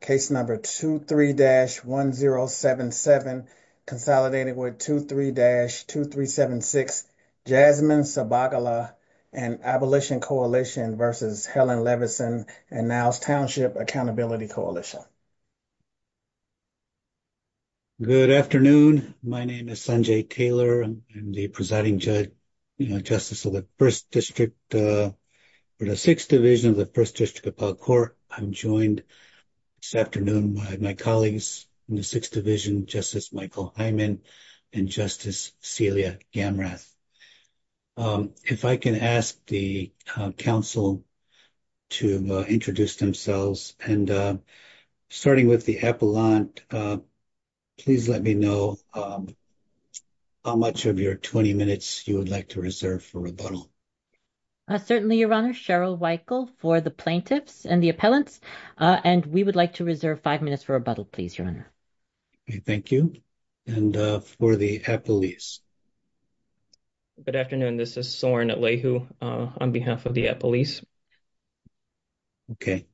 Case number 23-1077, consolidated with 23-2376, Jasmine Sabagala and Abolition Coalition versus Helen Levinson and Niles Township Accountability Coalition. Good afternoon. My name is Sanjay Taylor. I'm the presiding judge, you know, justice of the district for the 6th Division of the 1st District Appellate Court. I'm joined this afternoon by my colleagues in the 6th Division, Justice Michael Hyman and Justice Celia Gamrath. If I can ask the council to introduce themselves and starting with the appellant, please let me know how much of your 20 minutes you would like to reserve for rebuttal. Certainly, Your Honor. Cheryl Weichel for the plaintiffs and the appellants, and we would like to reserve five minutes for rebuttal, please, Your Honor. Okay, thank you. And for the appellees. Good afternoon. This is begin with you, Attorney Weichel, on behalf of the appellants. Thank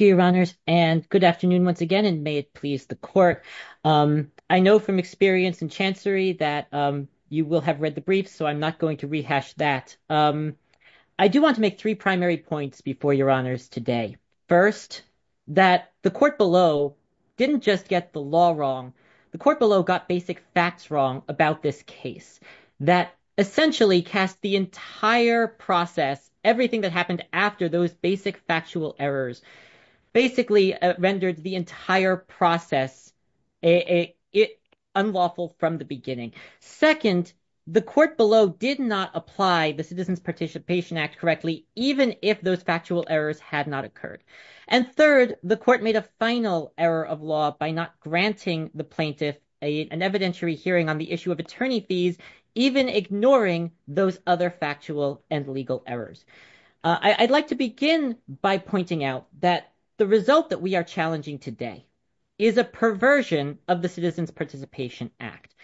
you, Your Honors, and good afternoon once again, and may it please the court. I know from experience in Chancery that you will have read the briefs, so I'm not going to rehash that. I do want to make three primary points before Your Honors today. First, that the court below didn't just get the law wrong. The court below got basic facts wrong about this case that essentially cast the entire process, everything that happened after those basic factual errors, basically rendered the entire process unlawful from the beginning. Second, the court below did not apply the Citizens Participation Act correctly, even if those factual errors had not occurred. And third, the court made a final error of law by not granting the plaintiff an evidentiary hearing on the issue of attorney fees, even ignoring those other factual and legal errors. I'd like to begin by pointing out that the result that we are challenging today is a perversion of the Citizens Participation Act.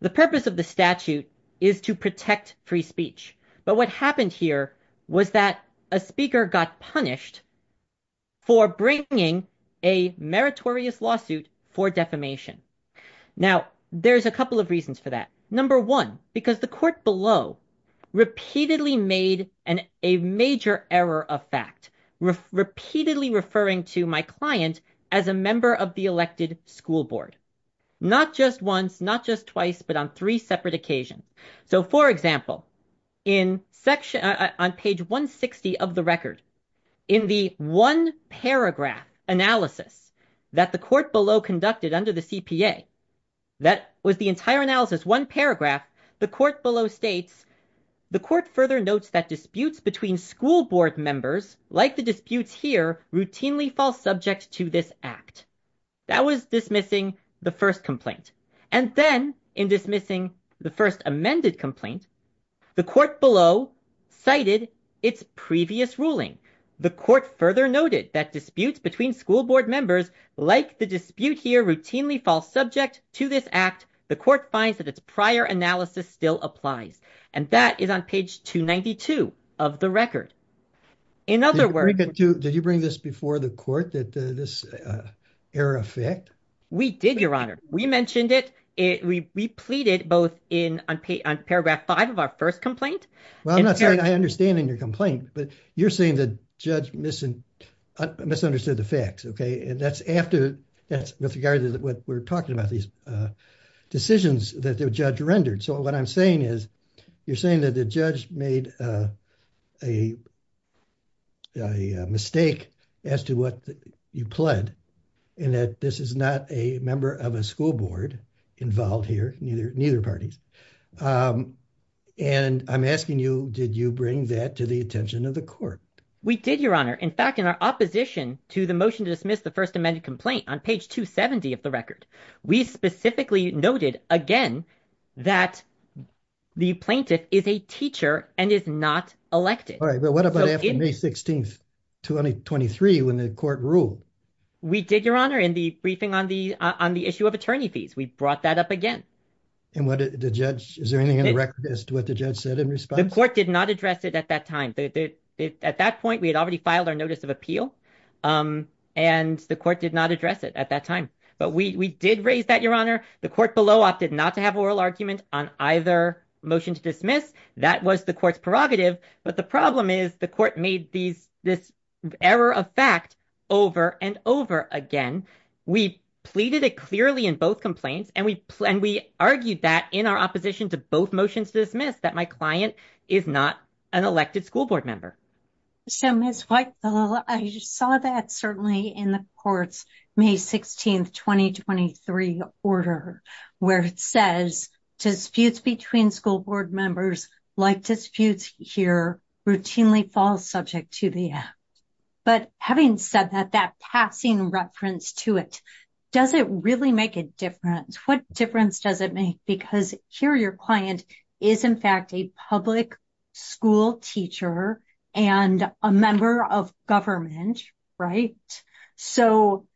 The purpose of the statute is to protect free speech. But what happened here was that a speaker got punished for bringing a meritorious lawsuit for defamation. Now, there's a couple of reasons for that. Number one, because the court below repeatedly made a major error of fact, repeatedly referring to my client as a member of the elected school board, not just once, not just twice, but on three separate occasions. So, for example, on page 160 of the record, in the one paragraph analysis that the court below conducted under the CPA, that was the entire analysis, one paragraph, the court below states, the court further notes that disputes between school board members, like the disputes here, routinely fall subject to this act. That was dismissing the first complaint. And then, in dismissing the first amended complaint, the court below cited its previous ruling. The court further noted that disputes between school board members, like the dispute here, routinely fall subject to this act. The court finds that its prior analysis still applies. And that is on page 292 of the record. In other words... Did you bring this before the court, that this error of fact? We did, your honor. We mentioned it. We pleaded both on paragraph five of our first complaint. Well, I'm not saying I understand in your complaint, but you're saying that judge misunderstood the facts, okay? And that's with regard to what we're talking about, these is, you're saying that the judge made a mistake as to what you pled, and that this is not a member of a school board involved here, neither parties. And I'm asking you, did you bring that to the attention of the court? We did, your honor. In fact, in our opposition to the motion to dismiss the first amended complaint on page 270 of the record, we specifically noted, again, that the plaintiff is a teacher and is not elected. All right, but what about after May 16th, 2023, when the court ruled? We did, your honor, in the briefing on the issue of attorney fees. We brought that up again. And what did the judge, is there anything in the record as to what the judge said in response? The court did not address it at that time. At that point, we had already filed our notice of appeal, and the court did not address it at that time. But we did raise that, your honor. The court below opted not to have oral argument on either motion to dismiss. That was the court's prerogative. But the problem is the court made this error of fact over and over again. We pleaded it clearly in both complaints, and we argued that in our opposition to both motions to dismiss, that my is not an elected school board member. So, Ms. White, I saw that certainly in the court's May 16th, 2023 order, where it says disputes between school board members, like disputes here, routinely fall subject to the act. But having said that, that passing reference to it, does it really make a difference? What difference does it make? Because here, your client is, in fact, a public school teacher and a member of government, right? So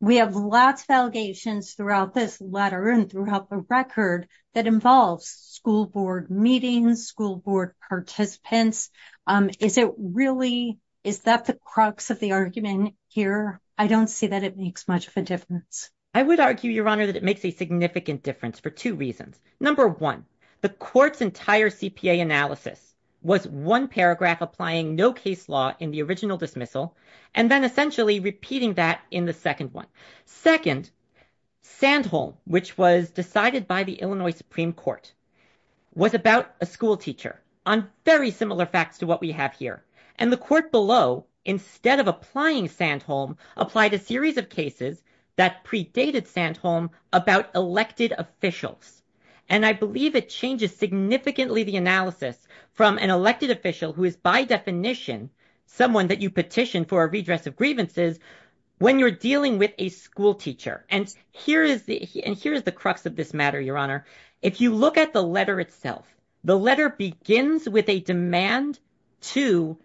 we have lots of allegations throughout this letter and throughout the record that involves school board meetings, school board participants. Is that the crux of the argument here? I don't see that it makes much of a difference. I would argue, your honor, that it makes a significant difference for two reasons. Number one, the court's entire CPA analysis was one paragraph applying no case law in the original dismissal, and then essentially repeating that in the second one. Second, Sandholm, which was decided by the Illinois Supreme Court, was about a school teacher, on very similar facts to what we have here. And the court below, instead of applying Sandholm, applied a series of cases that predated Sandholm about elected officials. And I believe it changes significantly the analysis from an elected official who is, by definition, someone that you petition for a redress of grievances when you're dealing with a school teacher. And here is the crux of this matter, your honor. If you look at the letter itself, the letter begins with a demand to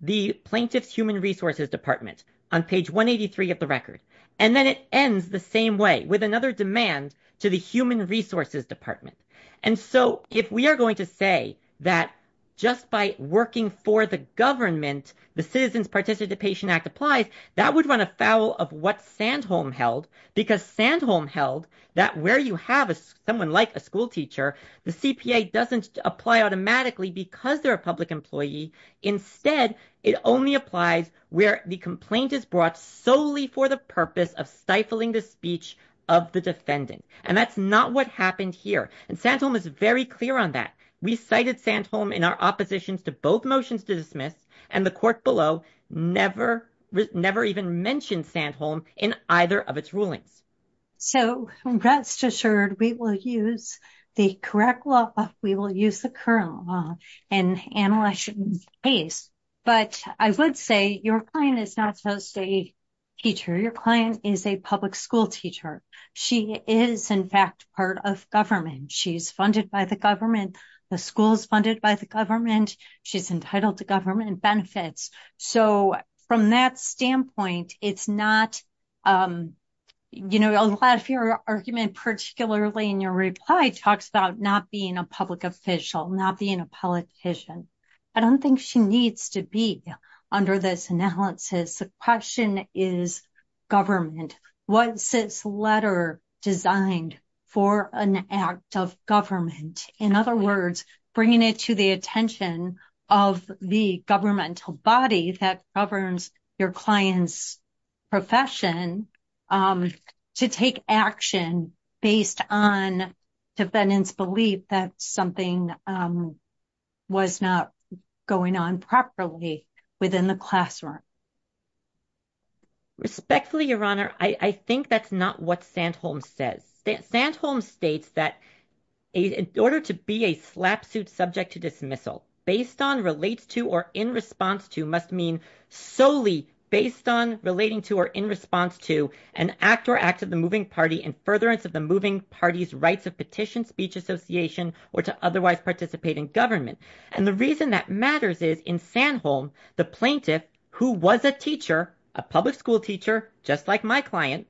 the plaintiff's human resources department, on page 183 of the record. And then it ends the same way, with another demand to the human resources department. And so if we are going to say that just by working for the government, the Citizens Participation Act applies, that would run afoul of what Sandholm held. Because Sandholm held that where you have someone like a school teacher, the CPA doesn't apply automatically because they're a public employee. Instead, it only applies where the complaint is brought solely for the purpose of stifling the speech of the defendant. And that's not what happened here. And Sandholm is very clear on that. We cited Sandholm in our oppositions to both motions to dismiss, and the court below never even mentioned Sandholm in either of its rulings. So, rest assured, we will use the correct law. We will use the current law and analyze the case. But I would say your client is not supposed to be a teacher. Your client is a public school teacher. She is, in fact, part of government. She's funded by the government. The school is funded by the government. She's entitled to government benefits. So, from that standpoint, it's not, you know, a lot of your argument, particularly in your reply, talks about not being a public official, not being a politician. I don't think she needs to be under this analysis. The question is government. What's this letter designed for an act of government? In other words, bringing it to the attention of the governmental body that governs your client's profession to take action based on defendant's belief that something was not going on properly within the classroom. Respectfully, Your Honor, I think that's not what Sandholm says. Sandholm states that in order to be a slap suit subject to dismissal, based on, relates to, or in response to must mean solely based on, relating to, or in response to an act or act of the moving party in furtherance of the moving party's rights of petition, speech association, or to otherwise participate in government. And the reason that matters is in Sandholm, the plaintiff, who was a teacher, a public school teacher, just like my client,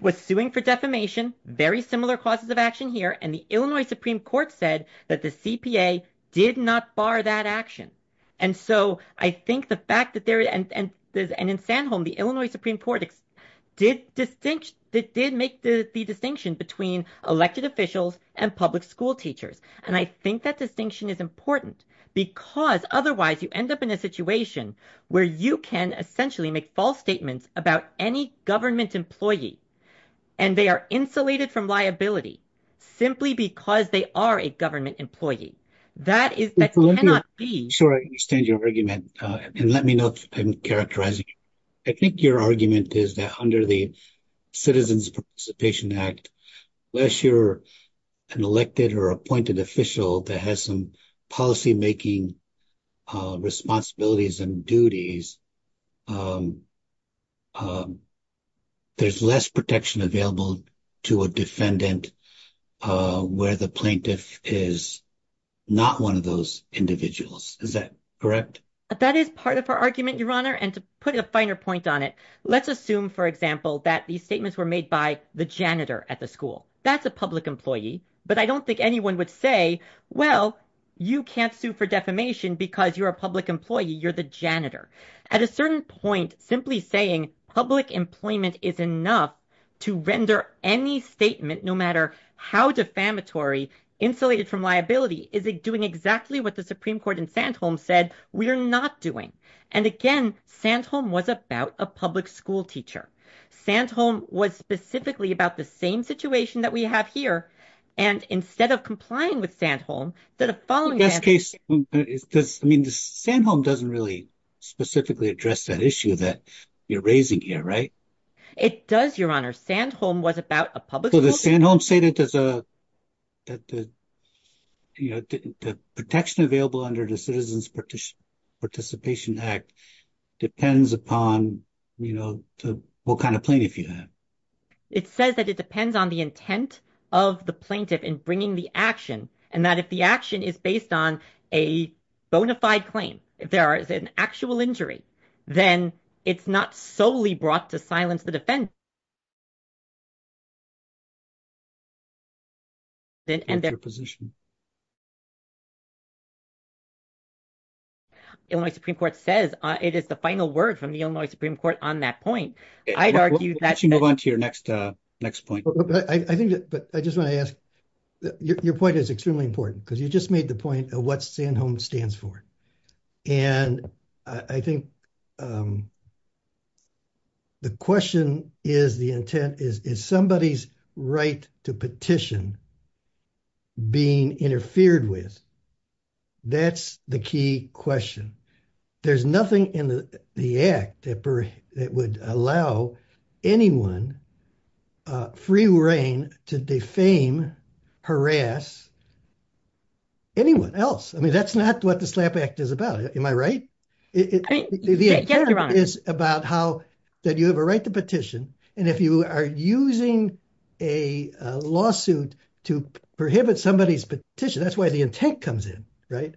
was suing for defamation, very similar causes of action here. And the Illinois Supreme Court said that the CPA did not bar that action. And so I think the fact that there, and in Sandholm, the Illinois Supreme Court did make the distinction between elected officials and public school teachers. And I think that distinction is important because otherwise you end up in a situation where you can essentially make false statements about any government employee, and they are insulated from liability simply because they are a government employee. Sure, I understand your argument. And let me know if I'm characterizing. I think your argument is that under the Citizens Participation Act, unless you're an elected or appointed official that has policymaking responsibilities and duties, there's less protection available to a defendant where the plaintiff is not one of those individuals. Is that correct? That is part of our argument, Your Honor, and to put a finer point on it, let's assume, for example, that these statements were made by the janitor at the school. That's public employee. But I don't think anyone would say, well, you can't sue for defamation because you're a public employee. You're the janitor. At a certain point, simply saying public employment is enough to render any statement, no matter how defamatory, insulated from liability, is it doing exactly what the Supreme Court in Sandholm said we're not doing. And again, Sandholm was about a public school teacher. Sandholm was specifically about the same situation that we have here. And instead of complying with Sandholm, the following case... I mean, Sandholm doesn't really specifically address that issue that you're raising here, right? It does, Your Honor. Sandholm was about a public school teacher. So does Sandholm say that the protection available under the Citizens Participation Act depends upon what kind of plaintiff you have? It says that it depends on the intent of the plaintiff in bringing the action, and that if the action is based on a bona fide claim, if there is an actual injury, then it's not solely brought to silence the defense. Illinois Supreme Court says it is the final word from the Illinois Supreme Court on that point. I'd argue that... Why don't you move on to your next point? But I just want to ask, your point is extremely important, because you just made the point of what Sandholm stands for. And I think the question is, the intent is, is somebody's right to petition being interfered with? That's the key question. There's nothing in the act that would allow anyone free reign to defame, harass anyone else. I mean, that's not what the SLAPP Act is about. Am I right? Yes, Your Honor. It's about how that you have a right to petition, and if you are using a lawsuit to prohibit somebody's petition, that's why the intent comes in, right?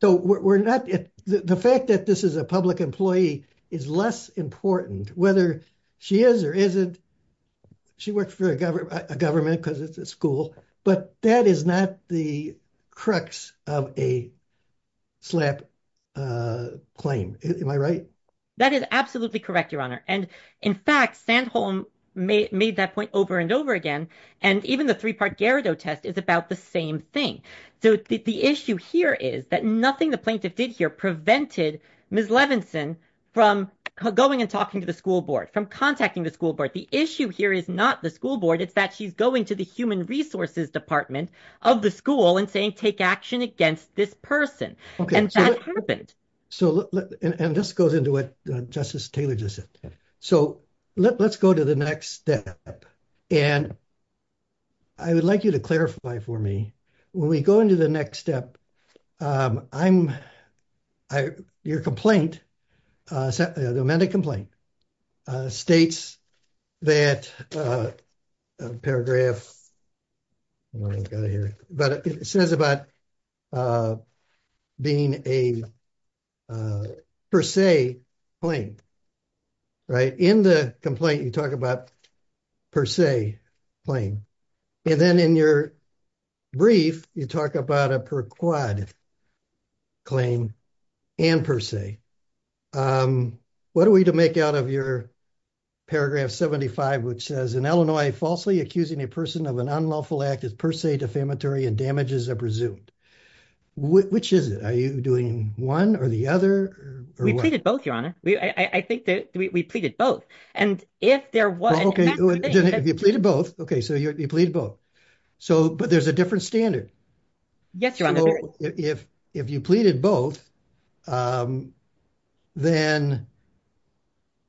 So we're not... The fact that this is a public employee is less important, whether she is or isn't. She works for a government because it's a school, but that is not the crux of a SLAPP claim. Am I right? That is absolutely correct, Your Honor. And in fact, Sandholm made that point over and over again. And even the three-part Garrido test is about the same thing. So the issue here is that nothing the plaintiff did here prevented Ms. Levinson from going and talking to the school board, from contacting the school board. The issue here is not the school board. It's that she's going to the human resources department of the school and saying, take action against this person. And this goes into what Justice Taylor just said. So let's go to the next step. And I would like you to clarify for me, when we go into the next step, your complaint, the amended complaint, states that paragraph... I don't know if you got it here, but it says about being a per se claim, right? In the complaint, you talk about per se claim. And then in your brief, you talk about a per quad claim and per se. What are we to make out of your paragraph 75, which says, in Illinois, falsely accusing a person of an unlawful act is per se defamatory and damages are presumed. Which is it? Are you doing one or the other? We pleaded both, Your Honor. I think that we pleaded both. And if there was... Okay. You pleaded both. Okay. So you pleaded both. But there's a different standard. Yes, Your Honor. If you pleaded both, then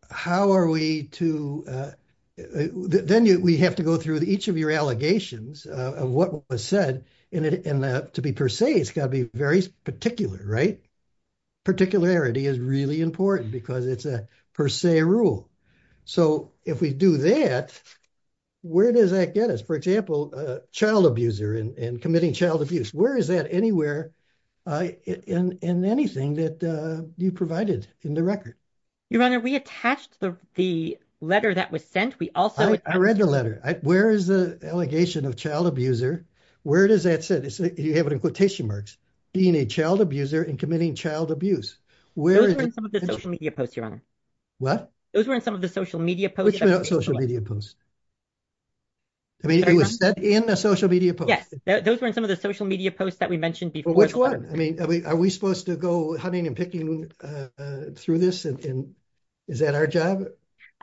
how are we to... Then we have to go through each of your allegations of what was said. And to be per se, it's got to be very particular, right? Particularity is really important because it's a per se rule. So if we do that, where does that get us? For example, child abuser and committing child abuse. Where is that anywhere in anything that you provided in the record? Your Honor, we attached the letter that was sent. We also... Where is the allegation of child abuser? Where does that sit? You have it in quotation marks, being a child abuser and committing child abuse. Those were in some of the social media posts, Your Honor. What? Those were in some of the social media posts. Which social media posts? I mean, it was sent in a social media post. Yes. Those were in some of the social media posts that we mentioned before. Which one? I mean, are we supposed to go hunting and picking through this? Is that our job?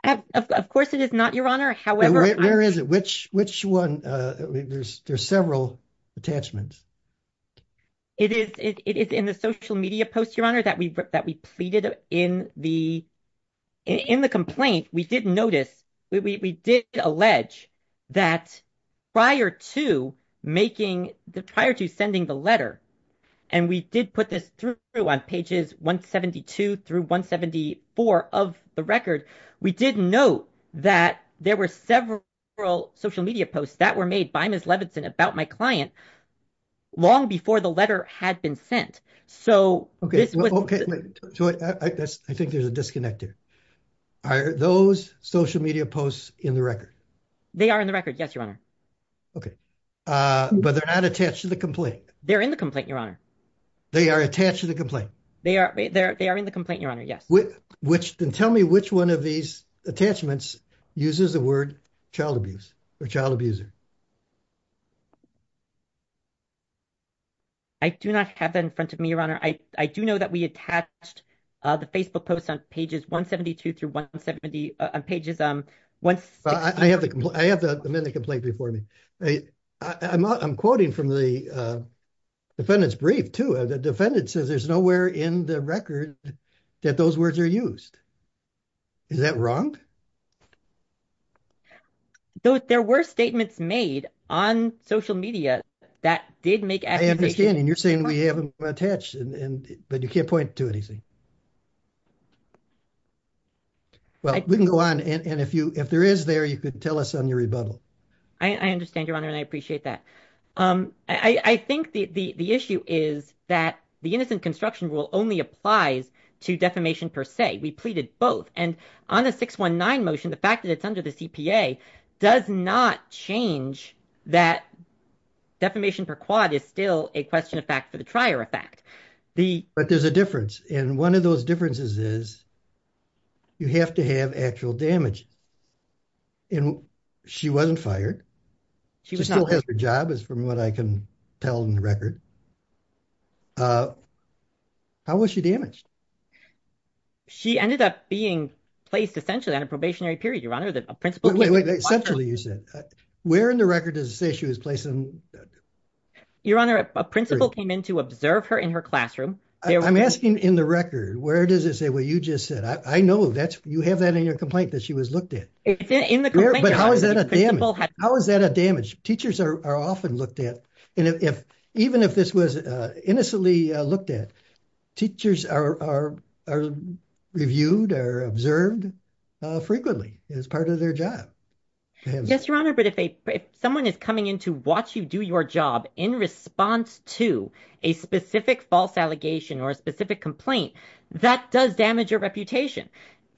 Of course it is not, Your Honor. However... Where is it? Which one? There's several attachments. It is in the social media post, Your Honor, that we pleaded in the complaint. We did notice, we did allege that prior to sending the letter, and we did put this through on pages 172 through 174 of the record, we did note that there were several social media posts that were made by Ms. Levinson about my client long before the letter had been sent. So this was... Okay. I think there's a disconnect there. Are those social media posts in the record? They are in the record. Yes, Your Honor. Okay. But they're not attached to the complaint? They're in the complaint, Your Honor. They are attached to the complaint? They are in the complaint, Your Honor. Yes. Then tell me which one of these attachments uses the word child abuse or child abuser. I do not have that in front of me, Your Honor. I do know that we attached the Facebook post on pages 172 through 170, on pages... I have them in the complaint before me. I'm quoting from the defendant's brief too. The in the record that those words are used. Is that wrong? There were statements made on social media that did make... I understand. And you're saying we have them attached, but you can't point to anything. Well, we can go on. And if there is there, you could tell us on your rebuttal. I understand, Your Honor. And I appreciate that. I think the issue is that the innocent construction rule only applies to defamation per se. We pleaded both. And on the 619 motion, the fact that it's under the CPA does not change that defamation per quad is still a question of fact for the trier effect. But there's a difference. And one of those differences is you have to have actual damage. And she wasn't fired. She still has her job, from what I can tell in the record. How was she damaged? She ended up being placed essentially on a probationary period, Your Honor. Wait, wait, wait. Essentially, you said. Where in the record does it say she was placed? Your Honor, a principal came in to observe her in her classroom. I'm asking in the record, where does it say what you just said? I know that you have that in your complaint that she was looked at. It's in the complaint. How is that a damage? Teachers are often looked at. And even if this was innocently looked at, teachers are reviewed or observed frequently as part of their job. Yes, Your Honor. But if someone is coming in to watch you do your job in response to a specific false allegation or a specific complaint, that does damage your reputation.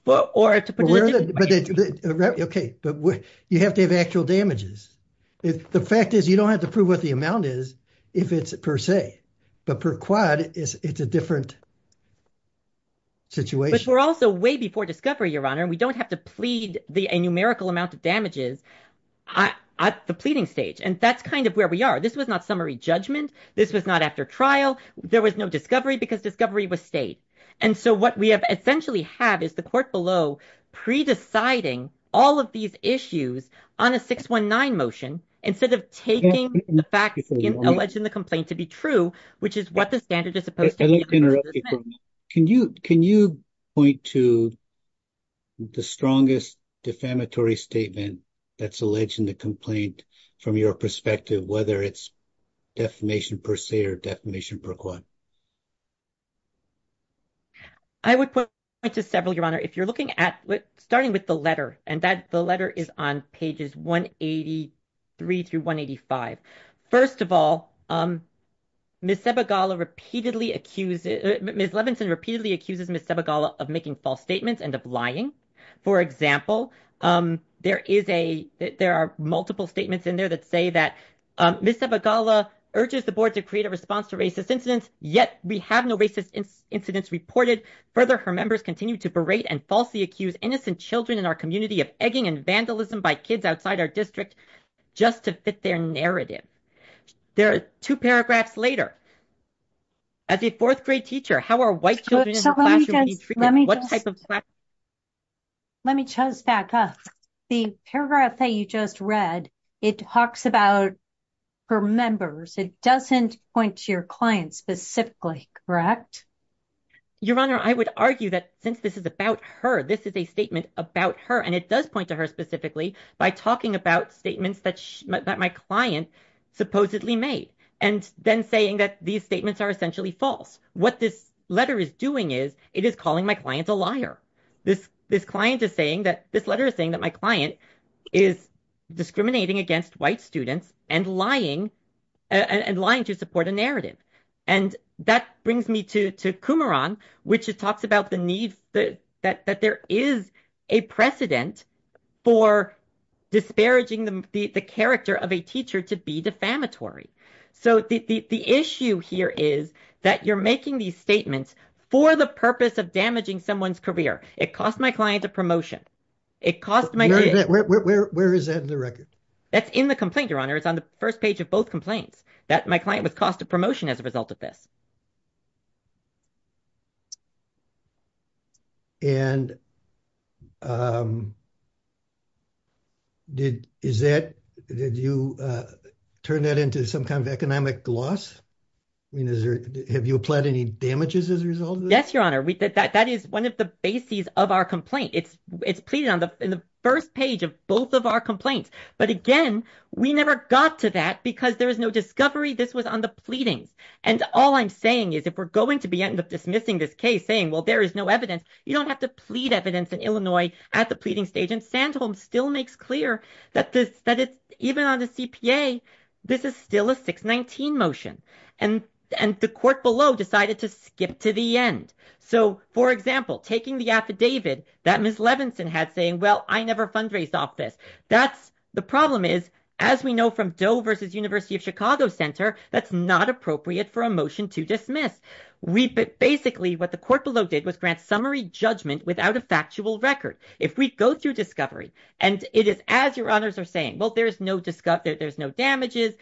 Or to put it another way. OK. But you have to have actual damages. The fact is, you don't have to prove what the amount is if it's per se. But per quad, it's a different situation. But we're also way before discovery, Your Honor. And we don't have to plead the numerical amount of damages at the pleading stage. And that's kind of where we are. This was not summary judgment. This was not after trial. There was no discovery because discovery was And so what we have essentially have is the court below pre-deciding all of these issues on a 619 motion instead of taking the facts alleged in the complaint to be true, which is what the standard is supposed to be. Can you point to the strongest defamatory statement that's alleged in the complaint from your perspective, whether it's defamation per se or defamation per quad? I would point to several, Your Honor, if you're looking at starting with the letter. And the letter is on pages 183 through 185. First of all, Ms. Levinson repeatedly accuses Ms. Sebagala of making false statements and of lying. For example, there are multiple statements in there that say that Ms. Sebagala urges the board to create a response to racist incidents. Yet we have no racist incidents reported. Further, her members continue to berate and falsely accuse innocent children in our community of egging and vandalism by kids outside our district just to fit their narrative. There are two paragraphs later. As a fourth grade teacher, how are white children in the classroom being treated? Let me just back up. The paragraph that you just read, it talks about her members. It doesn't point to your client specifically, correct? Your Honor, I would argue that since this is about her, this is a statement about her, and it does point to her specifically by talking about statements that my client supposedly made and then saying that these statements are essentially false. What this letter is doing is it is calling my client a liar. This client is saying that this client is discriminating against white students and lying to support a narrative. That brings me to Kumaran, which talks about the need that there is a precedent for disparaging the character of a teacher to be defamatory. The issue here is that you're making these statements for the purpose of someone's career. It cost my client a promotion. Where is that in the record? That's in the complaint, Your Honor. It's on the first page of both complaints that my client was cost of promotion as a result of this. Did you turn that into some kind of economic loss? Have you applied any damages as a result? Yes, Your Honor. That is one of the bases of our complaint. It's pleaded on the first page of both of our complaints. But again, we never got to that because there is no discovery. This was on the pleadings. All I'm saying is if we're going to end up dismissing this case saying, well, there is no evidence, you don't have to plead evidence in Illinois at the pleading stage. Sandholm still makes clear that even on the CPA, this is still a 619 motion. And the court below decided to skip to the end. For example, taking the affidavit that Ms. Levinson had saying, well, I never fundraised off this. The problem is, as we know from Doe versus University of Chicago Center, that's not appropriate for a motion to dismiss. Basically, what the court below did was grant summary judgment without a factual record. If we go through discovery and it is as Your Honors are saying, well, there's no damages,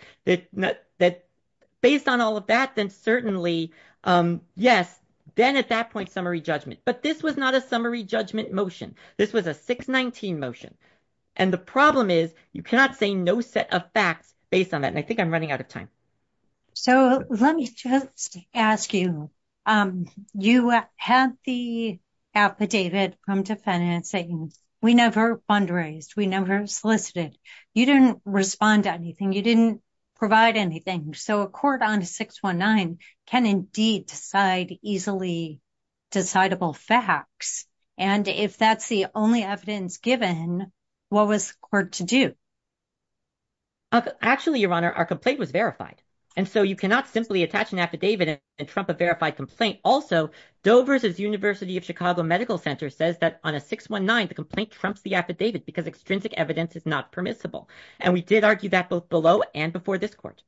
based on all of that, then certainly, yes, then at that point, summary judgment. But this was not a summary judgment motion. This was a 619 motion. And the problem is you cannot say no set of facts based on that. And I think I'm running out of time. So let me just ask you, you have the affidavit from defendants saying we never fundraised, we never solicited, you didn't respond to anything, you didn't provide anything. So a court on 619 can indeed decide easily decidable facts. And if that's the only evidence given, what was court to do? Actually, Your Honor, our complaint was verified. And so you cannot simply attach an affidavit and trump a verified complaint. Also, Dover's University of Chicago Medical Center says that on a 619, the complaint trumps the affidavit because extrinsic evidence is not permissible. And we did argue that both below and before this court.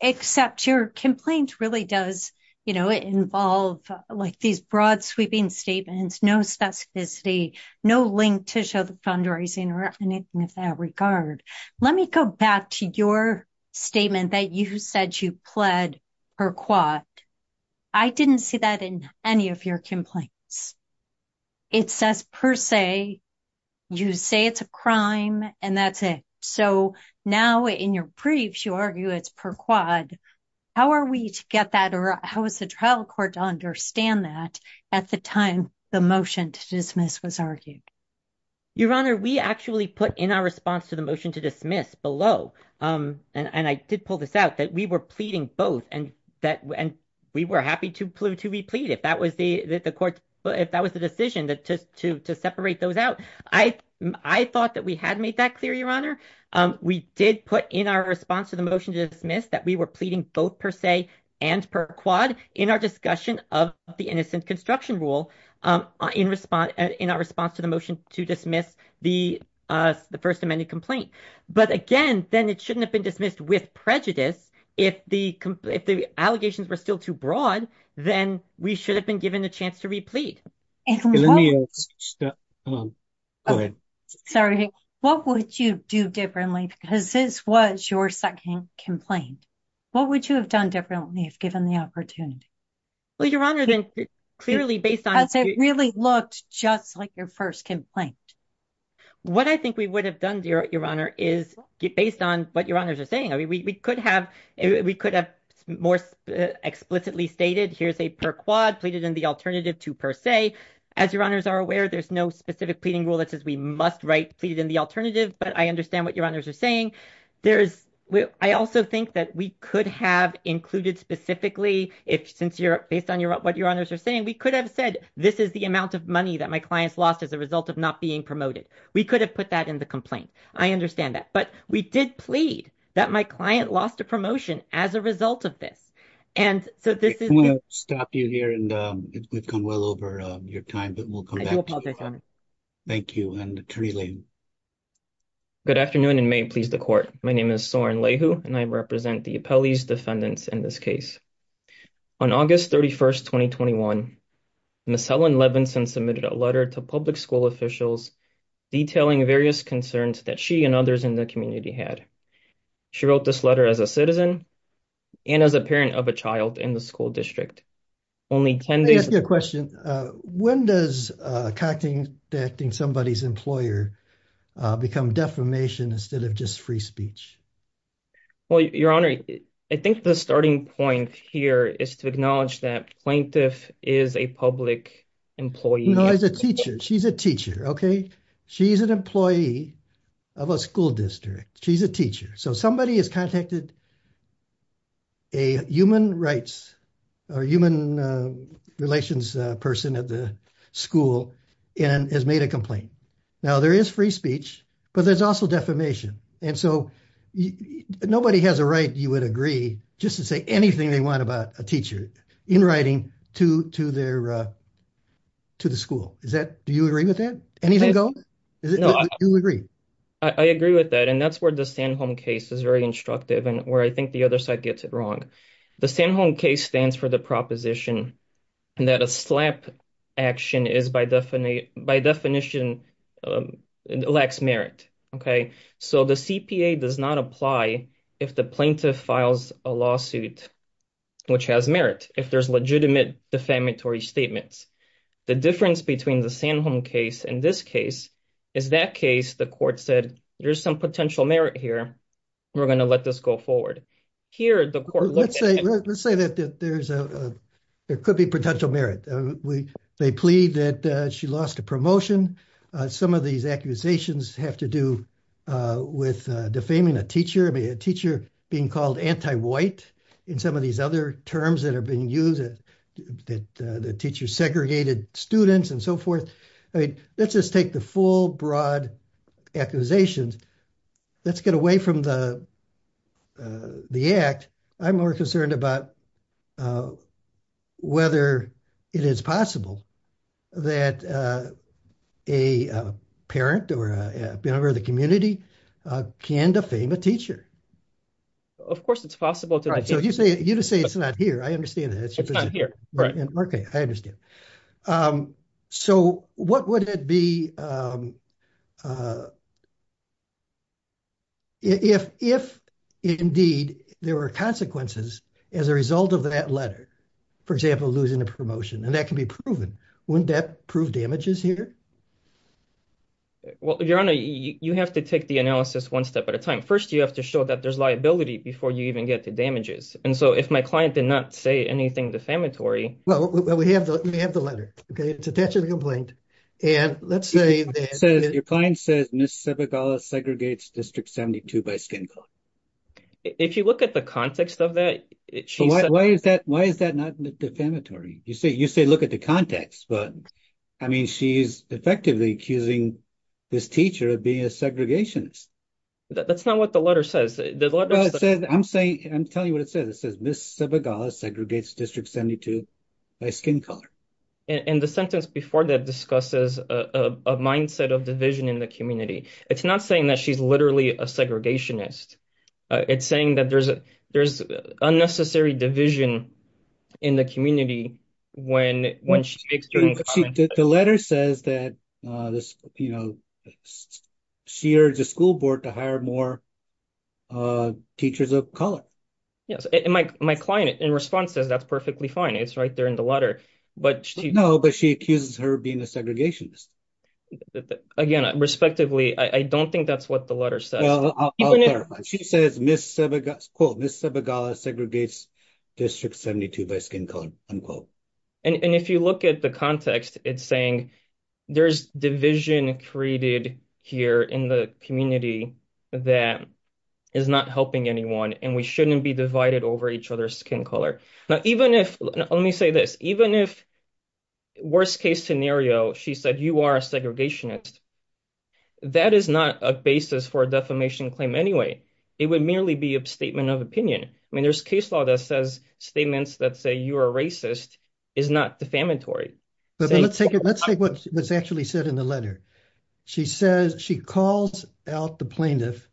Except your complaint really does, you know, involve like these broad sweeping statements, no specificity, no link to show the fundraising or anything of that regard. Let me go back to your statement that you said you pled per quad. I didn't see that in any of your complaints. It says per se, you say it's a crime, and that's it. So now in your briefs, you argue it's per quad. How are we to get that or how is the trial court to understand that at the time the motion to dismiss was argued? Your Honor, we actually put in our response to the motion to dismiss below, and I did pull this out, that we were pleading both and that we were happy to replead if that was the court, if that was the decision to separate those out. I thought that we had made that clear, Your Honor. We did put in our response to the motion to dismiss that we were pleading both per se and per quad in our discussion of the innocent construction rule in our response to the motion to dismiss the first amended complaint. But again, then it shouldn't have been dismissed with prejudice if the allegations were still too broad, then we should have been given a chance to replead. Sorry, what would you do differently? Because this was your second complaint. What would you have done differently if given the opportunity? Well, Your Honor, then clearly based on... It really looked just like your first complaint. What I think we would have done, Your Honor, is based on what Your Honors are saying. We could have more explicitly stated, here's a per quad pleaded in the alternative to per se. As Your Honors are aware, there's no specific pleading rule that says we must write pleaded in the alternative, but I understand what Your Honors are saying. I also think that we could have included specifically, based on what Your Honors are saying, that this is the amount of money that my clients lost as a result of not being promoted. We could have put that in the complaint. I understand that. But we did plead that my client lost a promotion as a result of this. And so this is... I want to stop you here and we've gone well over your time, but we'll come back to you. I do apologize, Your Honor. Thank you. And Kareem. Good afternoon and may it please the court. My name is Soren Lehu and I represent the defendants in this case. On August 31st, 2021, Ms. Helen Levinson submitted a letter to public school officials detailing various concerns that she and others in the community had. She wrote this letter as a citizen and as a parent of a child in the school district. Let me ask you a question. When does contacting somebody's employer become defamation instead of free speech? Your Honor, I think the starting point here is to acknowledge that plaintiff is a public employee. No, she's a teacher. She's an employee of a school district. She's a teacher. So somebody has contacted a human rights or human relations person at the school and has made a statement. And so nobody has a right, you would agree, just to say anything they want about a teacher in writing to the school. Do you agree with that? Anything go? Do you agree? I agree with that. And that's where the San Home case is very instructive and where I think the other side gets it wrong. The San Home case stands for the proposition that a slap action is by definition a lax merit. So the CPA does not apply if the plaintiff files a lawsuit which has merit, if there's legitimate defamatory statements. The difference between the San Home case and this case is that case, the court said, there's some potential merit here. We're going to let this go forward. Let's say that there could be potential merit. They plead that she lost a motion. Some of these accusations have to do with defaming a teacher, a teacher being called anti-white in some of these other terms that are being used, that the teacher segregated students and so forth. Let's just take the full broad accusations. Let's get away from the act. I'm more concerned about whether it is possible that a parent or a member of the community can defame a teacher. Of course, it's possible. You say it's not here. I understand that. Right. Okay. I understand. So what would it be if indeed there were consequences as a result of that letter, for example, losing a promotion? That can be proven. Wouldn't that prove damages here? Well, Your Honor, you have to take the analysis one step at a time. First, you have to show that there's liability before you even get the damages. If my client did not say anything defamatory... Well, we have the letter. It's attached to the complaint. Your client says Ms. Sebagala segregates District 72 by skin color. If you look at the context of that... Why is that not defamatory? You say look at the context, but she's effectively accusing this teacher of being a segregationist. That's not what the letter says. I'm telling you what it says. It says Ms. Sebagala segregates District 72 by skin color. And the sentence before that discusses a mindset of division in the community. It's not saying that she's literally a segregationist. It's saying that there's unnecessary division in the community when she makes certain comments. The letter says that she urged the school board to hire more teachers of color. Yes. My client, in response, says that's perfectly fine. It's right there in the letter. No, but she accuses her of being a segregationist. Again, respectively, I don't think that's what the letter says. Well, I'll clarify. She says Ms. Sebagala segregates District 72 by skin color. And if you look at the context, it's saying there's division created here in the community that is not helping anyone, and we shouldn't be divided over each other's skin color. Now, even if, let me say this, even if, worst case scenario, she said you are a segregationist, that is not a basis for a defamation claim anyway. It would merely be a statement of opinion. I mean, there's case law that says statements that say you are racist is not defamatory. But let's take what's actually said in the letter. She calls out the plaintiff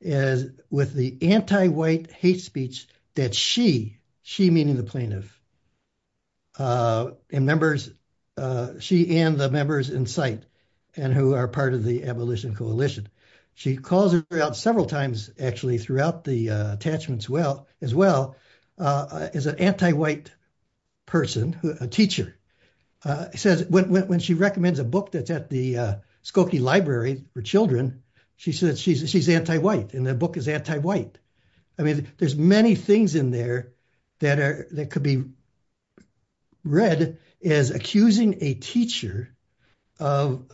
with the anti-white hate speech that she, she meaning the plaintiff, she and the members in sight and who are part of the abolition coalition. She calls her out several times actually throughout the attachments as well as an anti-white person, a teacher, says when she recommends a book that's at the Skokie library for children, she said she's anti-white and the book is anti-white. I mean, there's many things in there that could be read as accusing a teacher of